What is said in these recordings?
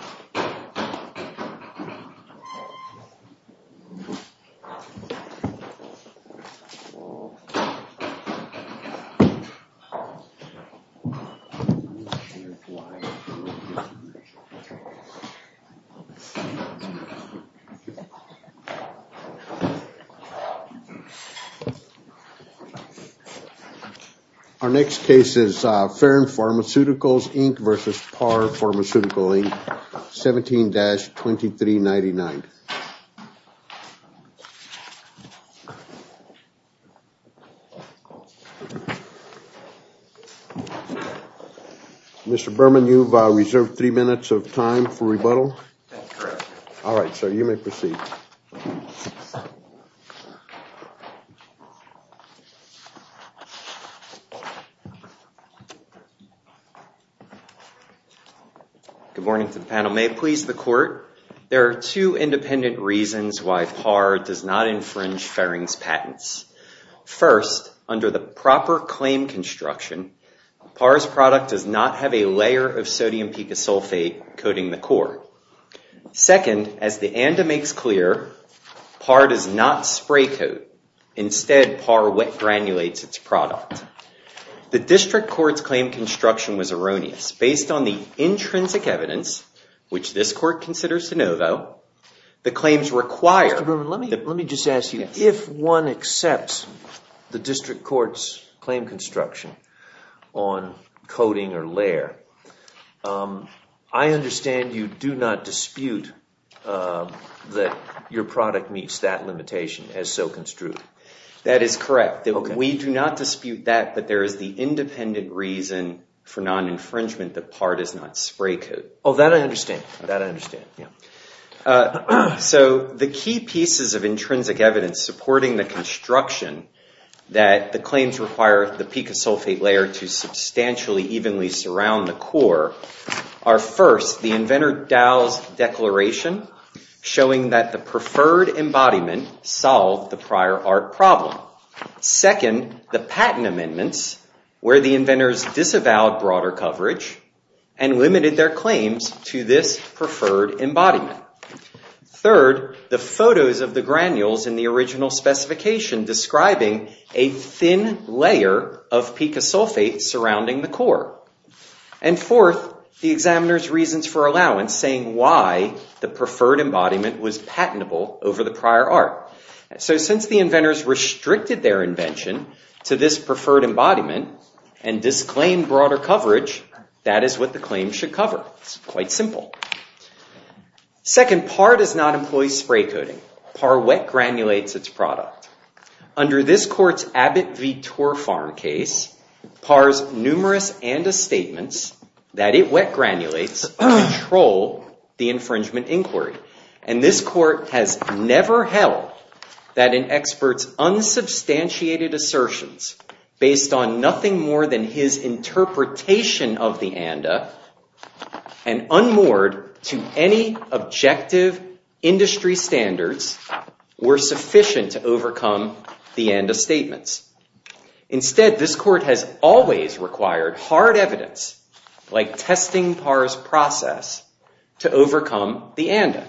Our for the court. There are two independent reasons why PAR does not infringe Farring's patents. First, under the proper claim construction, PAR's product does not have a layer of sodium picasulfate coating the core. Second, as the ANDA makes clear, PAR does not spray coat, instead PAR wet granulates its product. The district court's claim construction was erroneous. Based on the intrinsic evidence, which this court considers to know though, the claims require... Mr. Bruman, let me just ask you. If one accepts the district court's claim construction on coating or layer, I understand you do not dispute that your product meets that limitation as so construed. That is correct. We do not dispute that, but there is the independent reason for non-infringement that PAR does not spray coat. Oh, that I understand, that I understand. So the key pieces of intrinsic evidence supporting the construction that the claims require the picasulfate layer to substantially evenly surround the core are first, the inventor Dow's declaration showing that the preferred embodiment solved the prior art problem. Second, the patent amendments where the inventors disavowed broader coverage and limited their claims to this preferred embodiment. Third, the photos of the granules in the original specification describing a thin layer of picasulfate surrounding the core. And fourth, the examiner's reasons for allowance saying why the preferred embodiment was patentable over the prior art. So since the inventors restricted their invention to this preferred embodiment and disclaimed broader coverage, that is what the claim should cover. It's quite simple. Second, PAR does not employ spray coating. PAR wet granulates its product. Under this court's Abbott v. Torfarm case, PAR's numerous ANDA statements that it wet granulates control the infringement inquiry. And this court has never held that an expert's unsubstantiated assertions based on nothing more than his interpretation of the ANDA and unmoored to any objective industry standards were sufficient to overcome the ANDA statements. Instead, this court has always required hard evidence, like testing PAR's process, to overcome the ANDA.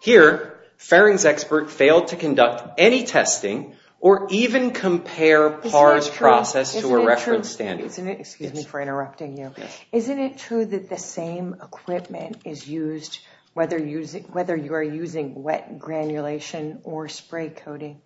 Here, Farring's expert failed to conduct any testing or even compare PAR's process to a reference standard. Excuse me for interrupting you. Isn't it true that the same equipment is used, whether you are using wet granulation or spray coating?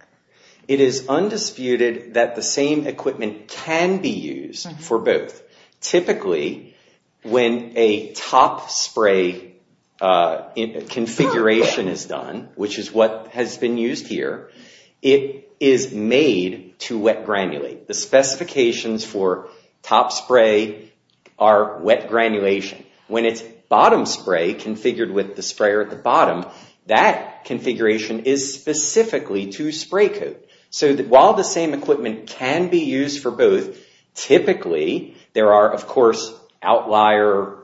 It is undisputed that the same equipment can be used for both. Typically, when a top spray configuration is done, which is what has been used here, it is made to wet granulate. The specifications for top spray are wet granulation. When it's bottom spray configured with the sprayer at the bottom, that configuration is specifically to spray coat. So while the same equipment can be used for both, typically there are, of course, outlier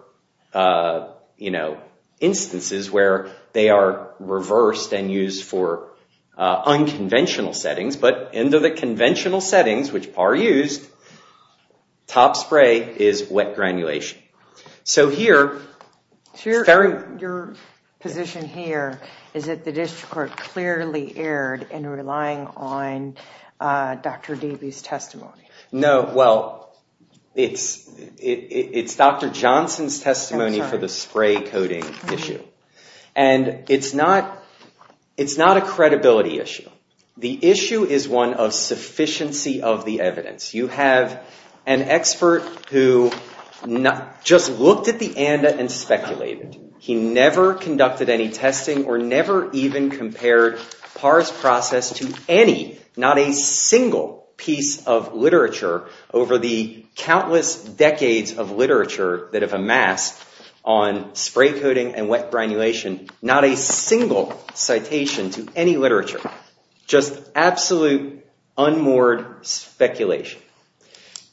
instances where they are reversed and used for unconventional settings. But under the conventional settings, which PAR used, top spray is wet granulation. So here, Farring- Your position here is that the district court clearly erred in relying on Dr. Dewey's testimony. No, well, it's Dr. Johnson's testimony for the spray coating issue. And it's not a credibility issue. The issue is one of sufficiency of the evidence. You have an expert who just looked at the ANDA and speculated. He never conducted any testing or never even compared PAR's process to any, not a single piece of literature over the countless decades of literature that have amassed on spray coating and wet granulation, not a single citation to any literature, just absolute unmoored speculation.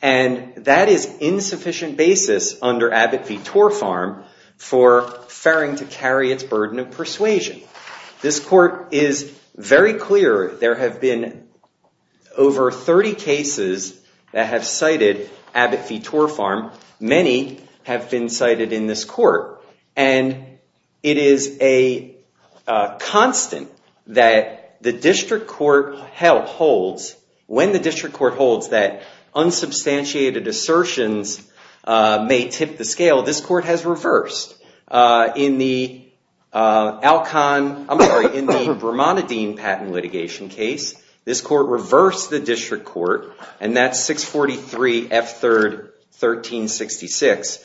And that is insufficient basis under Abbott v. Torfarm for Farring to carry its burden of persuasion. This court is very clear. There have been over 30 cases that have cited Abbott v. Torfarm. Many have been cited in this court. And it is a constant that the district court holds, when the district court holds that unsubstantiated assertions may tip the scale, this court has reversed. In the Alcon, I'm sorry, in the Bramante Dean patent litigation case, this court reversed the district court, and that's 643 F. 3rd, 1366.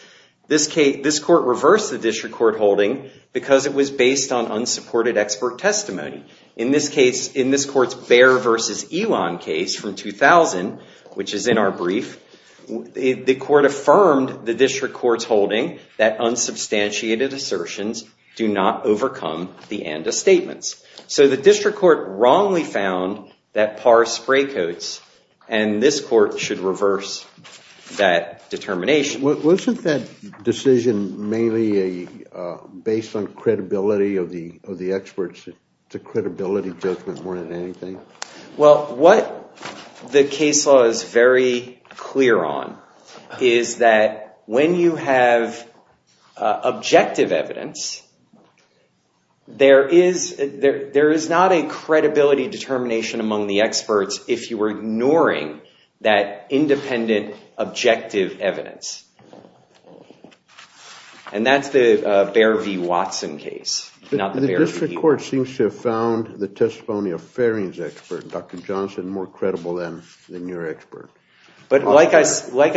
This court reversed the district court holding because it was based on unsupported expert testimony. In this case, in this court's Baer v. Ewan case from 2000, which is in our brief, the court affirmed the district court's holding that unsubstantiated assertions do not overcome the ANDA statements. So the district court wrongly found that par spray coats, and this court should reverse that determination. Wasn't that decision mainly based on credibility of the experts? The credibility judgment more than anything? Well, what the case law is very clear on is that when you have objective evidence, there is not a credibility determination among the experts if you were ignoring that independent objective evidence. And that's the Baer v. Watson case, not the Baer v. Ewan. The district court seems to have found the testimony of Farine's expert, Dr. Johnson, more credible than your expert. But like I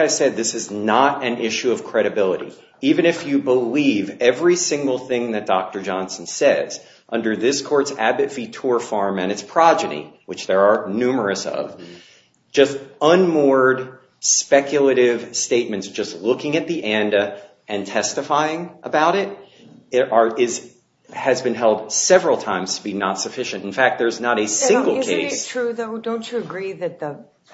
said, this is not an issue of credibility. Even if you believe every single thing that Dr. Johnson says, under this court's Abbott v. Torr farm and its progeny, which there are numerous of, just unmoored speculative statements, just looking at the ANDA and testifying about it, has been held several times to be not sufficient. In fact, there's not a single case. Isn't it true, though? Don't you agree that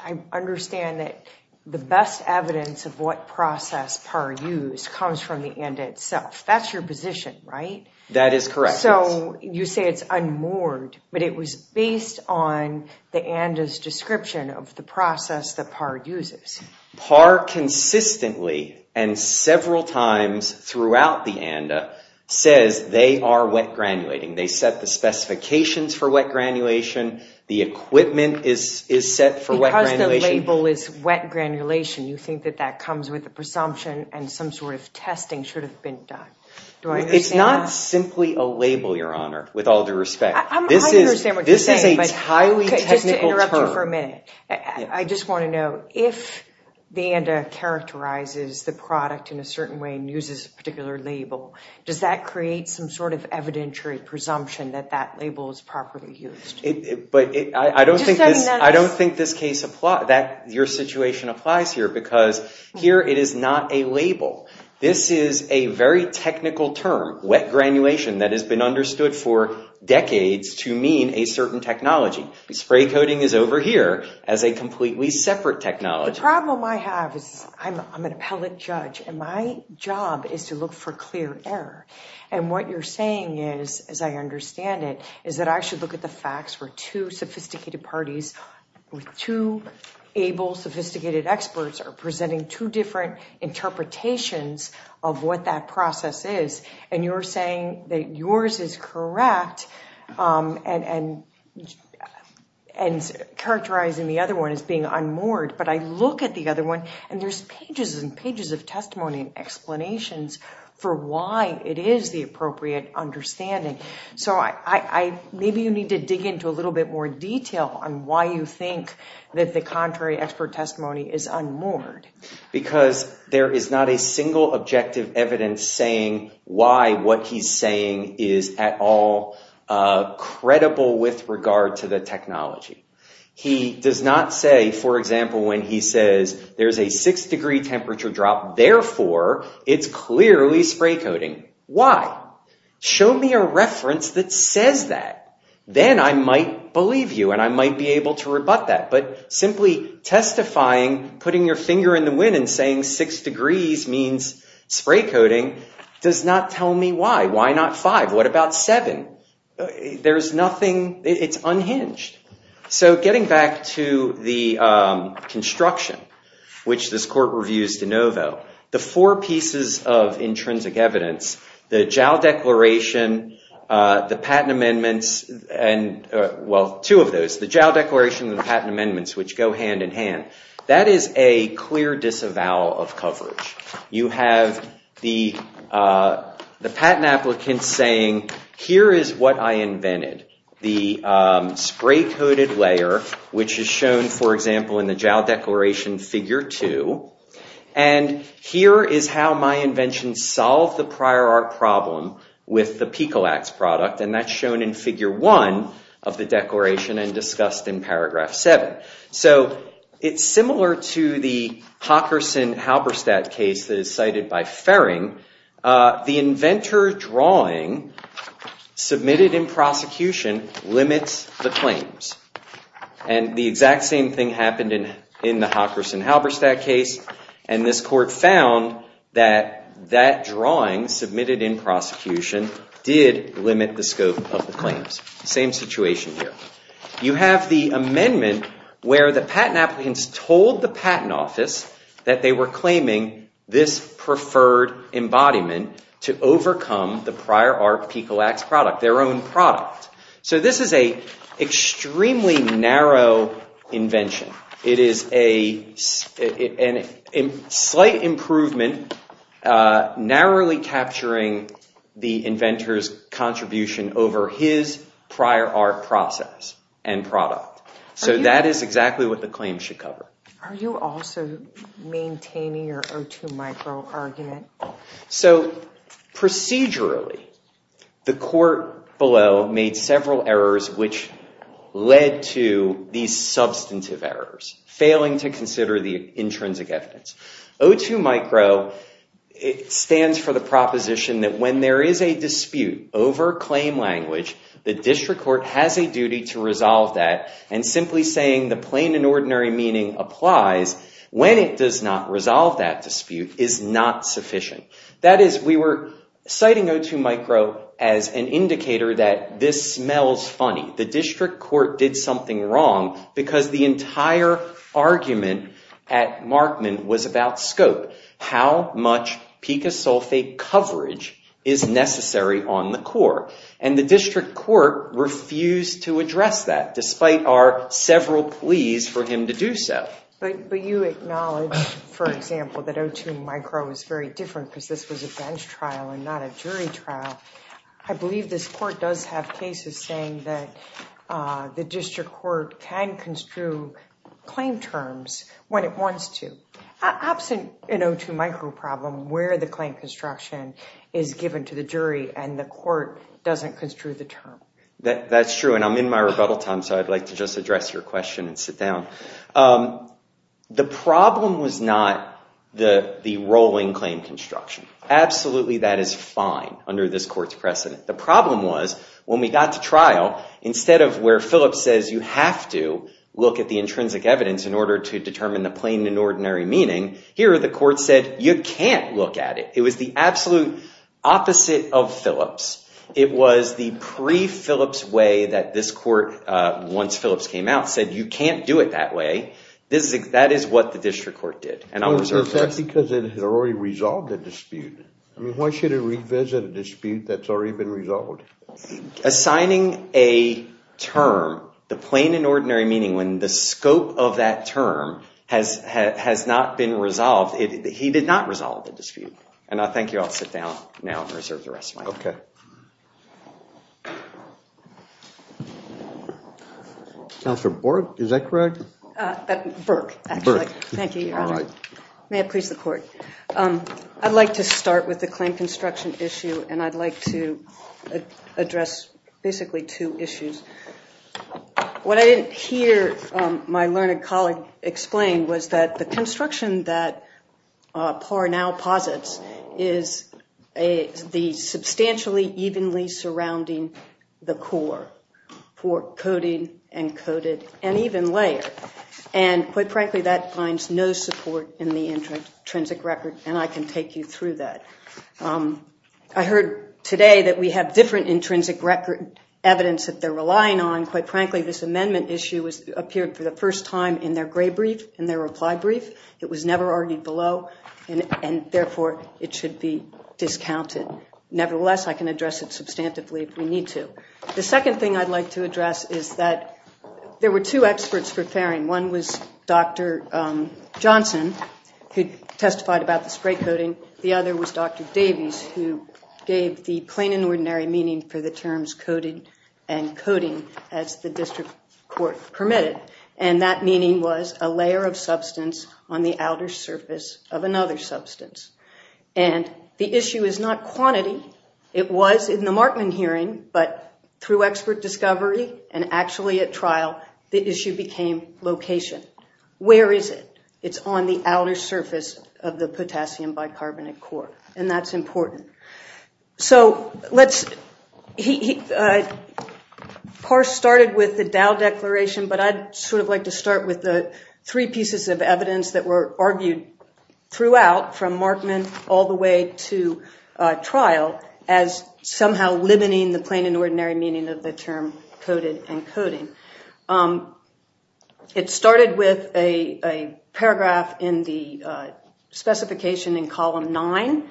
I understand that the best evidence of what process PAR used comes from the ANDA itself? That's your position, right? That is correct. So you say it's unmoored, but it was based on the ANDA's description of the process that PAR uses. PAR consistently, and several times throughout the ANDA, says they are wet granulating. They set the specifications for wet granulation. The equipment is set for wet granulation. Because the label is wet granulation, you think that that comes with a presumption and some sort of testing should have been done. Do I understand that? It's not simply a label, Your Honor, with all due respect. I understand what you're saying, but just to interrupt you for a minute, I just want to know, if the ANDA characterizes the product in a certain way and uses a particular label, does that create some sort of evidentiary presumption that that label is properly used? I don't think your situation applies here, because here it is not a label. This is a very technical term, wet granulation, that has been understood for decades to mean a certain technology. Spray coating is over here as a completely separate technology. The problem I have is I'm an appellate judge, and my job is to look for clear error. And what you're saying is, as I understand it, is that I should look at the facts where two sophisticated parties with two able, sophisticated experts are presenting two different interpretations of what that process is. And you're saying that yours is correct, and characterizing the other one as being unmoored. But I look at the other one, and there's pages and pages of testimony and explanations for why it is the appropriate understanding. So maybe you need to dig into a little bit more detail on why you think that the contrary expert testimony is unmoored. Because there is not a single objective evidence saying why what he's saying is at all credible with regard to the technology. He does not say, for example, when he says, there's a six degree temperature drop, therefore it's clearly spray coating. Why? Show me a reference that says that. Then I might believe you, and I might be able to rebut that. But simply testifying, putting your finger in the wind, and saying six degrees means spray coating does not tell me why. Why not five? What about seven? There's nothing. It's unhinged. So getting back to the construction, which this court reviews de novo, the four pieces of intrinsic evidence, the JAL declaration, the patent amendments, and well, two of those, the JAL declaration and the patent amendments, which go hand in hand. That is a clear disavowal of coverage. You have the patent applicant saying, here is what I invented, the spray coated layer, which is shown, for example, in the JAL declaration figure two. And here is how my invention solved the prior art problem with the PECOLAX product. And that's shown in figure one of the declaration and discussed in paragraph seven. So it's similar to the Hockerson-Halberstadt case that is cited by Ferring. The inventor drawing submitted in prosecution limits the claims. And the exact same thing happened in the Hockerson-Halberstadt case. And this court found that that drawing submitted in prosecution did limit the scope of the claims. Same situation here. You have the amendment where the patent applicants told the patent office that they were claiming this preferred embodiment to overcome the prior art PECOLAX product, their own product. So this is a extremely narrow invention. It is a slight improvement, narrowly capturing the inventor's contribution over his prior art process and product. So that is exactly what the claim should cover. Are you also maintaining your O2 micro argument? So procedurally, the court below made several errors which led to these substantive errors, failing to consider the intrinsic evidence. O2 micro stands for the proposition that when there is a dispute over claim language, the district court has a duty to resolve that. And simply saying the plain and ordinary meaning applies when it does not resolve that dispute is not sufficient. That is, we were citing O2 micro as an indicator that this smells funny. The district court did something wrong because the entire argument at Markman was about scope, how much picosulfate coverage is necessary on the court. And the district court refused to address that, despite our several pleas for him to do so. But you acknowledge, for example, that O2 micro is very different because this was a bench trial and not a jury trial. I believe this court does have cases saying that the district court can construe claim terms when it wants to, absent an O2 micro problem where the claim construction is given to the jury and the court doesn't construe the term. That's true. And I'm in my rebuttal time, so I'd like to just address your question and sit down. The problem was not the rolling claim construction. Absolutely, that is fine under this court's precedent. The problem was, when we got to trial, instead of where Phillips says you have to look at the intrinsic evidence in order to determine the plain and ordinary meaning, here the court said you can't look at it. It was the absolute opposite of Phillips. It was the pre-Phillips way that this court, once Phillips came out, said you can't do it that way. That is what the district court did. And I'll reserve the rest of my time. Is that because it had already resolved the dispute? Why should it revisit a dispute that's already been resolved? Assigning a term, the plain and ordinary meaning, when the scope of that term has not been resolved, he did not resolve the dispute. I'll sit down now and reserve the rest of my time. Okay. Counselor Bork, is that correct? Bork, actually. Thank you, Your Honor. May it please the court. I'd like to start with the claim construction issue, and I'd like to address basically two issues. What I didn't hear my learned colleague explain was that the construction that Parr now posits is the substantially evenly surrounding the core for coding, encoded, and even layered. And quite frankly, that finds no support in the intrinsic record, and I can take you through that. I heard today that we have different intrinsic record evidence that they're relying on. Quite frankly, this amendment issue appeared for the first time in their gray brief, in their reply brief. It was never argued below, and therefore, it should be discounted. Nevertheless, I can address it substantively if we need to. The second thing I'd like to address is that there were two experts preparing. One was Dr. Johnson, who testified about the spray coding. The other was Dr. Davies, who gave the plain and ordinary meaning for the terms coding and coding as the district court permitted. And that meaning was a layer of substance on the outer surface of another substance. And the issue is not quantity. It was in the Markman hearing, but through expert discovery and actually at trial, the issue became location. Where is it? It's on the outer surface of the potassium bicarbonate core, and that's important. So let's, Parse started with the Dow Declaration, but I'd sort of like to start with the three pieces of evidence that were argued throughout from Markman all the way to trial as somehow limiting the plain and ordinary meaning of the term coded and coding. It started with a paragraph in the specification in column nine,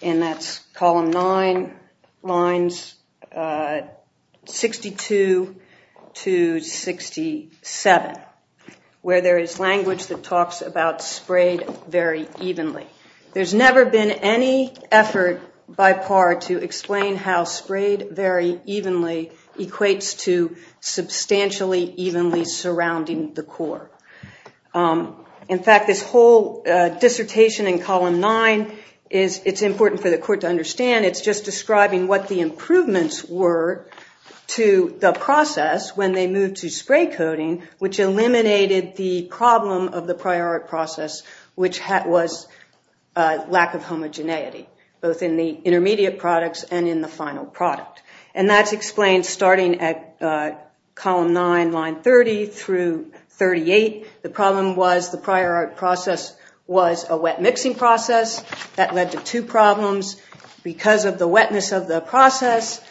and that's column nine, lines 62 to 67, where there is language that talks about sprayed very evenly. There's never been any effort by Parse to explain how sprayed very evenly equates to substantially evenly surrounding the core. In fact, this whole dissertation in column nine, it's important for the court to understand, it's just describing what the improvements were to the process when they moved to spray coding, which eliminated the problem of the prior process, which was lack of homogeneity, both in the intermediate products and in the final product. And that's explained starting at column nine, line 30 through 38. The problem was the prior process was a wet mixing process. That led to two problems. Because of the wetness of the process,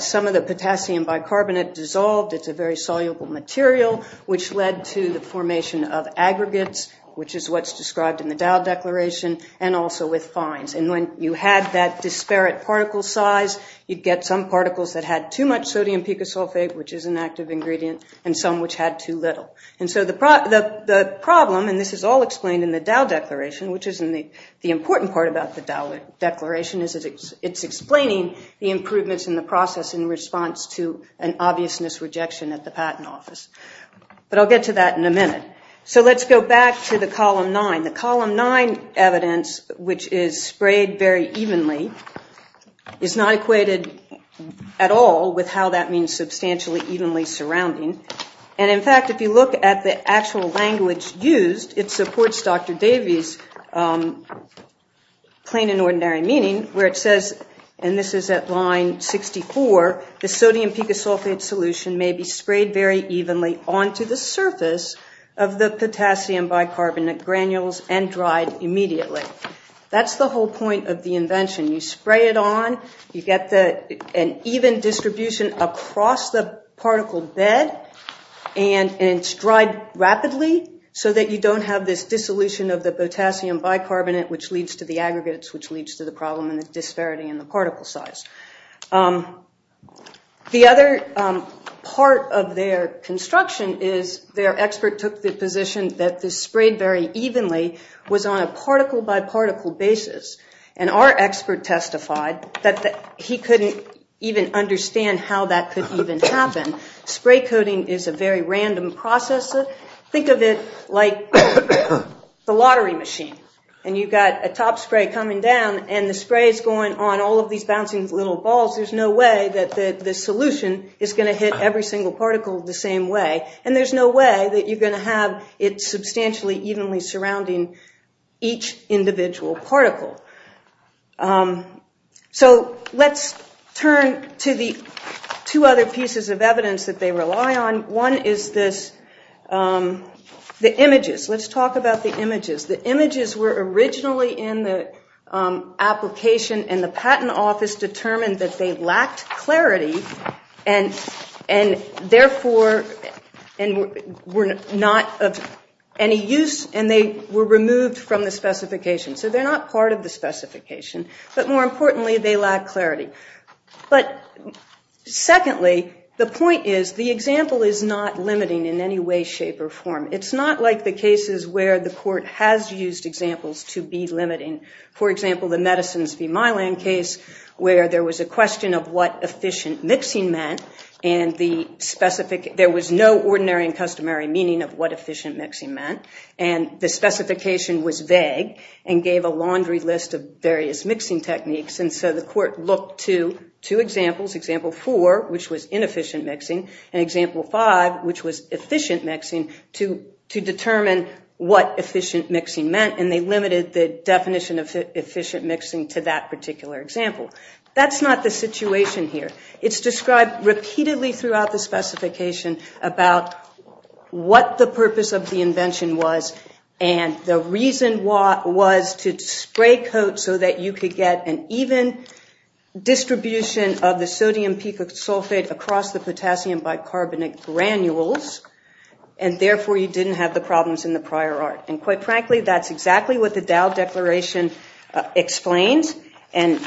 some of the potassium bicarbonate dissolved. It's a very soluble material, which led to the formation of aggregates, which is what's described in the Dow Declaration, and also with fines. And when you had that disparate particle size, you'd get some particles that had too much sodium picosulfate, which is an active ingredient, and some which had too little. And so the problem, and this is all explained in the Dow Declaration, which is the important part about the Dow Declaration, is it's explaining the improvements in the process in response to an obviousness rejection at the patent office. But I'll get to that in a minute. So let's go back to the column nine. The column nine evidence, which is sprayed very evenly, is not equated at all with how that means substantially evenly surrounding. And in fact, if you look at the actual language used, it supports Dr. Davies' plain and ordinary meaning, where it says, and this is at line 64, the sodium picosulfate solution may be sprayed very evenly onto the surface of the potassium bicarbonate granules and dried immediately. That's the whole point of the invention. You spray it on, you get an even distribution across the particle bed, and it's dried rapidly so that you don't have this dissolution of the potassium bicarbonate, which leads to the aggregates, which leads to the problem and the disparity in the particle size. The other part of their construction is their expert took the position that this sprayed very evenly was on a particle-by-particle basis. And our expert testified that he couldn't even understand how that could even happen. Spray coating is a very random process. Think of it like the lottery machine, and you've got a top spray coming down, and the spray is going on all of these bouncing little balls. There's no way that the solution is going to hit every single particle the same way. And there's no way that you're going to have it substantially evenly surrounding each individual particle. So let's turn to the two other pieces of evidence that they rely on. One is this, the images. Let's talk about the images. The images were originally in the application, and the patent office determined that they lacked clarity and, therefore, were not of any use, and they were removed from the specification. So they're not part of the specification, but more importantly, they lack clarity. But secondly, the point is the example is not limiting in any way, shape, or form. It's not like the cases where the court has used examples to be limiting. For example, the medicines v. Mylan case, where there was a question of what efficient mixing meant, and there was no ordinary and customary meaning of what efficient mixing meant, and the specification was vague and gave a laundry list of various mixing techniques. And so the court looked to two examples, example four, which was inefficient mixing, and example five, which was efficient mixing, to determine what efficient mixing meant, and they limited the definition of efficient mixing to that particular example. That's not the situation here. It's described repeatedly throughout the specification about what the purpose of the invention was, and the reason was to spray coat so that you could get an even distribution of the sodium pico sulfate across the potassium bicarbonate granules, and therefore you didn't have the problems in the prior art. And quite frankly, that's exactly what the Dow Declaration explains, and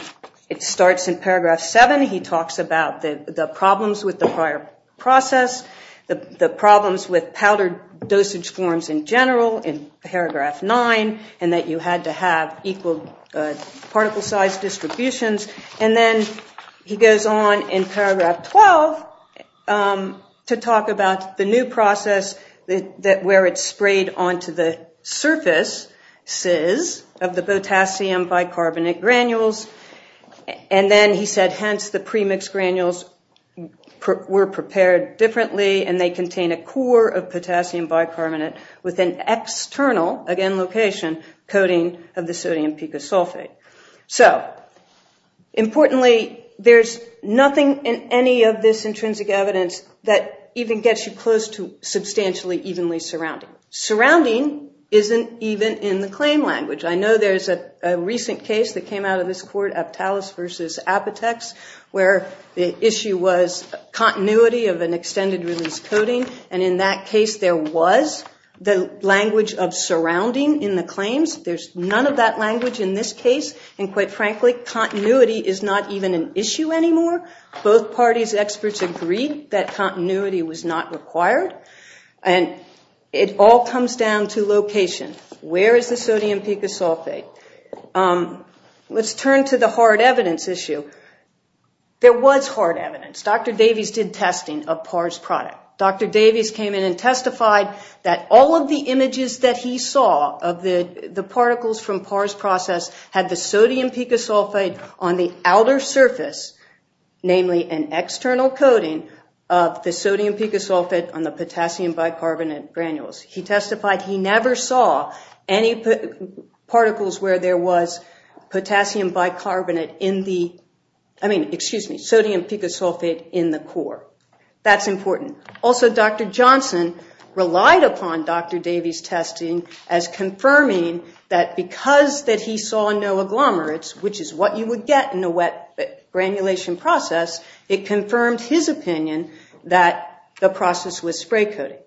it starts in paragraph seven. He talks about the problems with the prior process, the problems with powdered dosage forms in general in paragraph nine, and that you had to have equal particle size distributions. And then he goes on in paragraph 12 to talk about the new process where it's sprayed onto the surfaces of the potassium bicarbonate granules. And then he said, hence the premixed granules were prepared differently, and they contain a core of potassium bicarbonate with an external, again location, coating of the sodium pico sulfate. So importantly, there's nothing in any of this intrinsic evidence that even gets you close to substantially evenly surrounding. Surrounding isn't even in the claim language. I know there's a recent case that came out of this court, Aptalis versus Apotex, where the issue was continuity of an extended release coating, and in that case there was the language of surrounding in the claims. There's none of that language in this case, and quite frankly, continuity is not even an issue anymore. Both parties' experts agreed that continuity was not required. And it all comes down to location. Where is the sodium pico sulfate? Let's turn to the hard evidence issue. There was hard evidence. Dr. Davies did testing of Parr's product. Dr. Davies came in and testified that all of the images that he saw of the particles from Parr's process had the sodium pico sulfate on the outer surface, namely an external coating of the sodium pico sulfate on the potassium bicarbonate granules. He testified he never saw any particles where there was potassium bicarbonate in the, I mean, excuse me, sodium pico sulfate in the core. That's important. Also, Dr. Johnson relied upon Dr. Davies' testing as confirming that because that he saw no agglomerates, which is what you would get in a wet granulation process, it confirmed his opinion that the process was spray coating.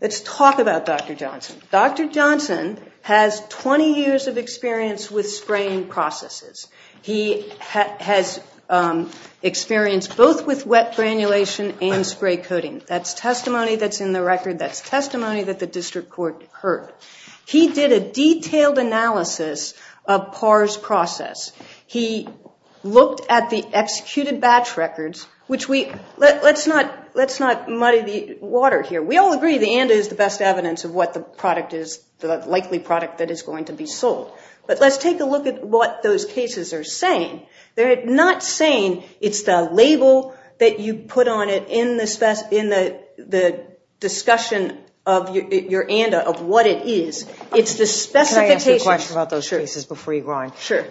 Let's talk about Dr. Johnson. Dr. Johnson has 20 years of experience with spraying processes. He has experience both with wet granulation and spray coating. That's testimony that's in the record. That's testimony that the district court heard. He did a detailed analysis of Parr's process. He looked at the executed batch records, which we, let's not muddy the water here. We all agree the ANDA is the best evidence of what the product is, the likely product that is going to be sold. But let's take a look at what those cases are saying. They're not saying it's the label that you put on it in the discussion of your ANDA, of what it is, it's the specification. Can I ask a question about those cases before you go on? Sure.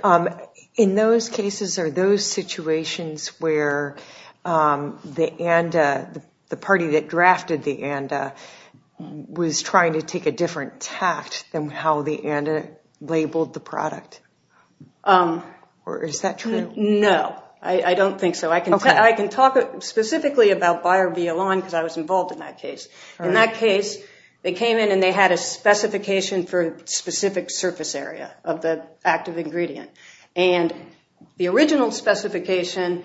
In those cases or those situations where the ANDA, the party that drafted the ANDA, was trying to take a different tact than how the ANDA labeled the product? Or is that true? No, I don't think so. I can talk specifically about buyer VL1 because I was involved in that case. In that case, they came in and they had a specification for a specific surface area of the active ingredient. And the original specification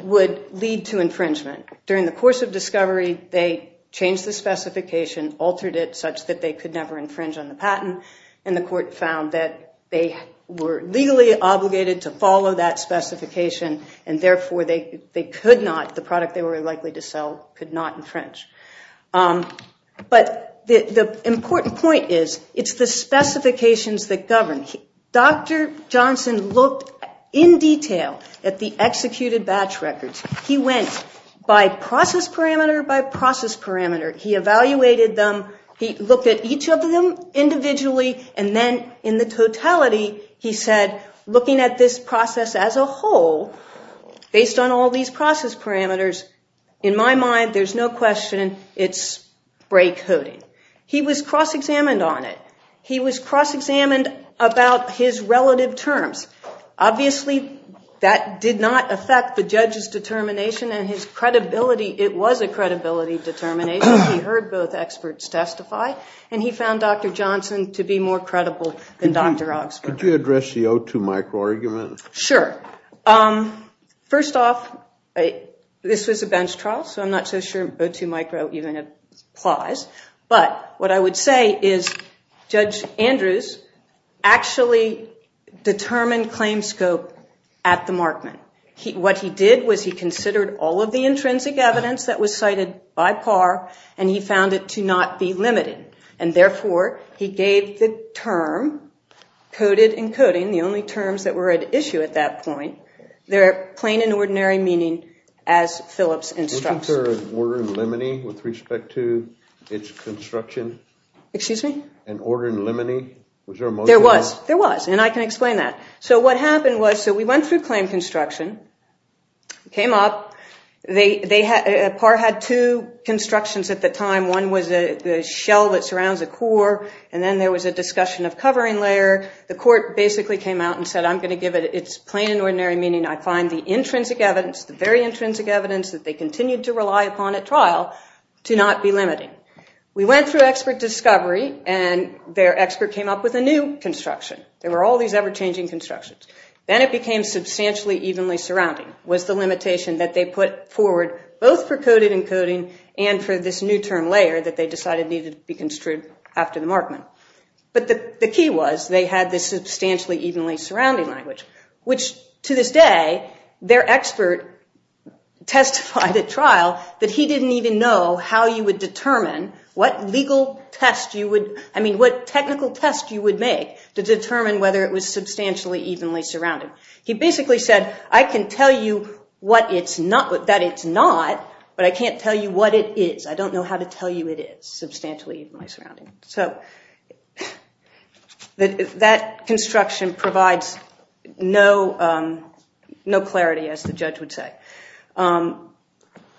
would lead to infringement. During the course of discovery, they changed the specification, altered it such that they could never infringe on the patent. And the court found that they were legally obligated to follow that specification and therefore they could not, the product they were likely to sell could not infringe. But the important point is, it's the specifications that govern. Dr. Johnson looked in detail at the executed batch records. He went by process parameter by process parameter. He evaluated them. He looked at each of them individually. And then in the totality, he said, looking at this process as a whole, based on all these process parameters, in my mind, there's no question it's break coding. He was cross-examined on it. He was cross-examined about his relative terms. Obviously, that did not affect the judge's determination and his credibility. It was a credibility determination. He heard both experts testify. And he found Dr. Johnson to be more credible than Dr. Oxford. Could you address the O2 micro argument? Sure. First off, this was a bench trial, so I'm not so sure O2 micro even applies. But what I would say is, Judge Andrews actually determined claim scope at the markment. What he did was he considered all of the intrinsic evidence that was cited by par, and he found it to not be limited. And therefore, he gave the term, coded and coding, the only terms that were at issue at that point, their plain and ordinary meaning as Phillips instructs. Was there an order in limine with respect to its construction? Excuse me? An order in limine? Was there a motion? There was. There was. And I can explain that. So what happened was, we went through claim construction, came up, par had two constructions at the time. One was a shell that surrounds a core, and then there was a discussion of covering layer. The court basically came out and said, I'm going to give it its plain and ordinary meaning. I find the intrinsic evidence, the very intrinsic evidence that they continued to rely upon at trial to not be limiting. We went through expert discovery, and their expert came up with a new construction. There were all these ever-changing constructions. Then it became substantially evenly surrounding was the limitation that they put forward both for coded and coding and for this new term layer that they decided needed to be construed after the markment. But the key was, they had this substantially evenly surrounding language, which to this day, their expert testified at trial that he didn't even know how you would determine what legal test you would, I mean, what technical test you would make to determine whether it was substantially evenly surrounding. He basically said, I can tell you that it's not, but I can't tell you what it is. I don't know how to tell you it is substantially evenly surrounding. So that construction provides no clarity, as the judge would say.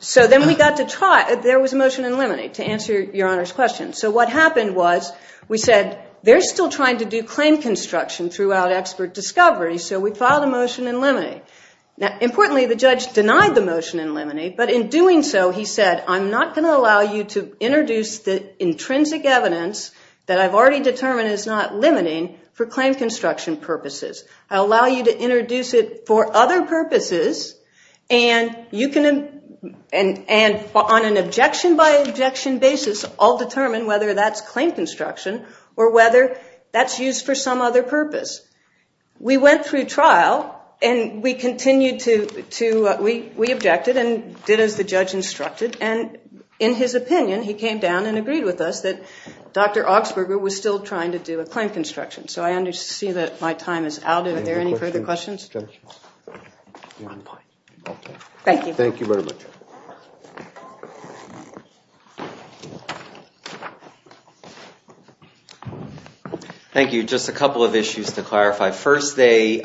So then we got to trial. There was a motion in limine to answer Your Honor's question. So what happened was, we said, they're still trying to do claim construction throughout expert discovery, so we filed a motion in limine. Now, importantly, the judge denied the motion in limine, but in doing so, he said, I'm not going to allow you to introduce the intrinsic evidence that I've already determined is not limiting for claim construction purposes. I allow you to introduce it for other purposes, and on an objection by objection basis, I'll determine whether that's claim construction or whether that's used for some other purpose. We went through trial, and we continued to, we objected and did as the judge instructed, and in his opinion, he came down and agreed with us that Dr. Augsburger was still trying to do a claim construction. So I understand that my time is out. Are there any further questions? Thank you. Thank you very much. Thank you. Just a couple of issues to clarify. First, they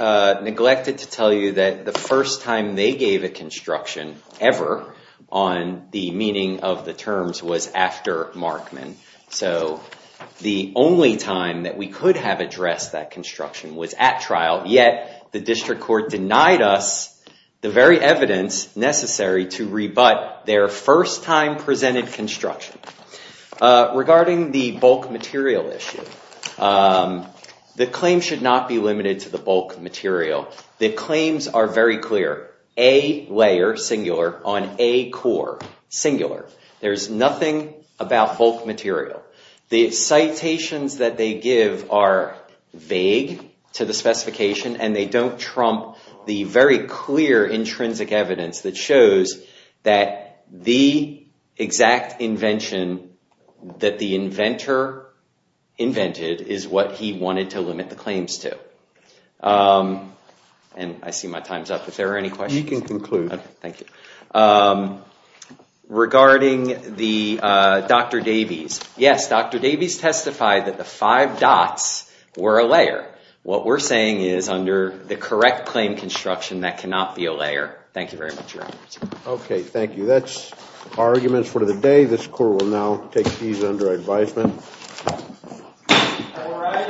neglected to tell you that the first time they gave a construction ever on the meaning of the terms was after Markman. So the only time that we could have addressed that construction was at trial, yet the district court denied us the very evidence necessary to rebut their first time presented construction. Regarding the bulk material issue, the claim should not be limited to the bulk material. The claims are very clear. A layer, singular, on A core, singular. There's nothing about bulk material. The citations that they give are vague to the specification, and they don't trump the very clear, intrinsic evidence that shows that the exact invention that the inventor invented is what he wanted to limit the claims to. And I see my time's up. Is there any questions? You can conclude. Thank you. Regarding the Dr. Davies, yes, Dr. Davies testified that the five dots were a layer. What we're saying is, under the correct claim construction, that cannot be a layer. Thank you very much, Your Honor. Okay, thank you. That's our argument for the day. This court will now take these under advisement.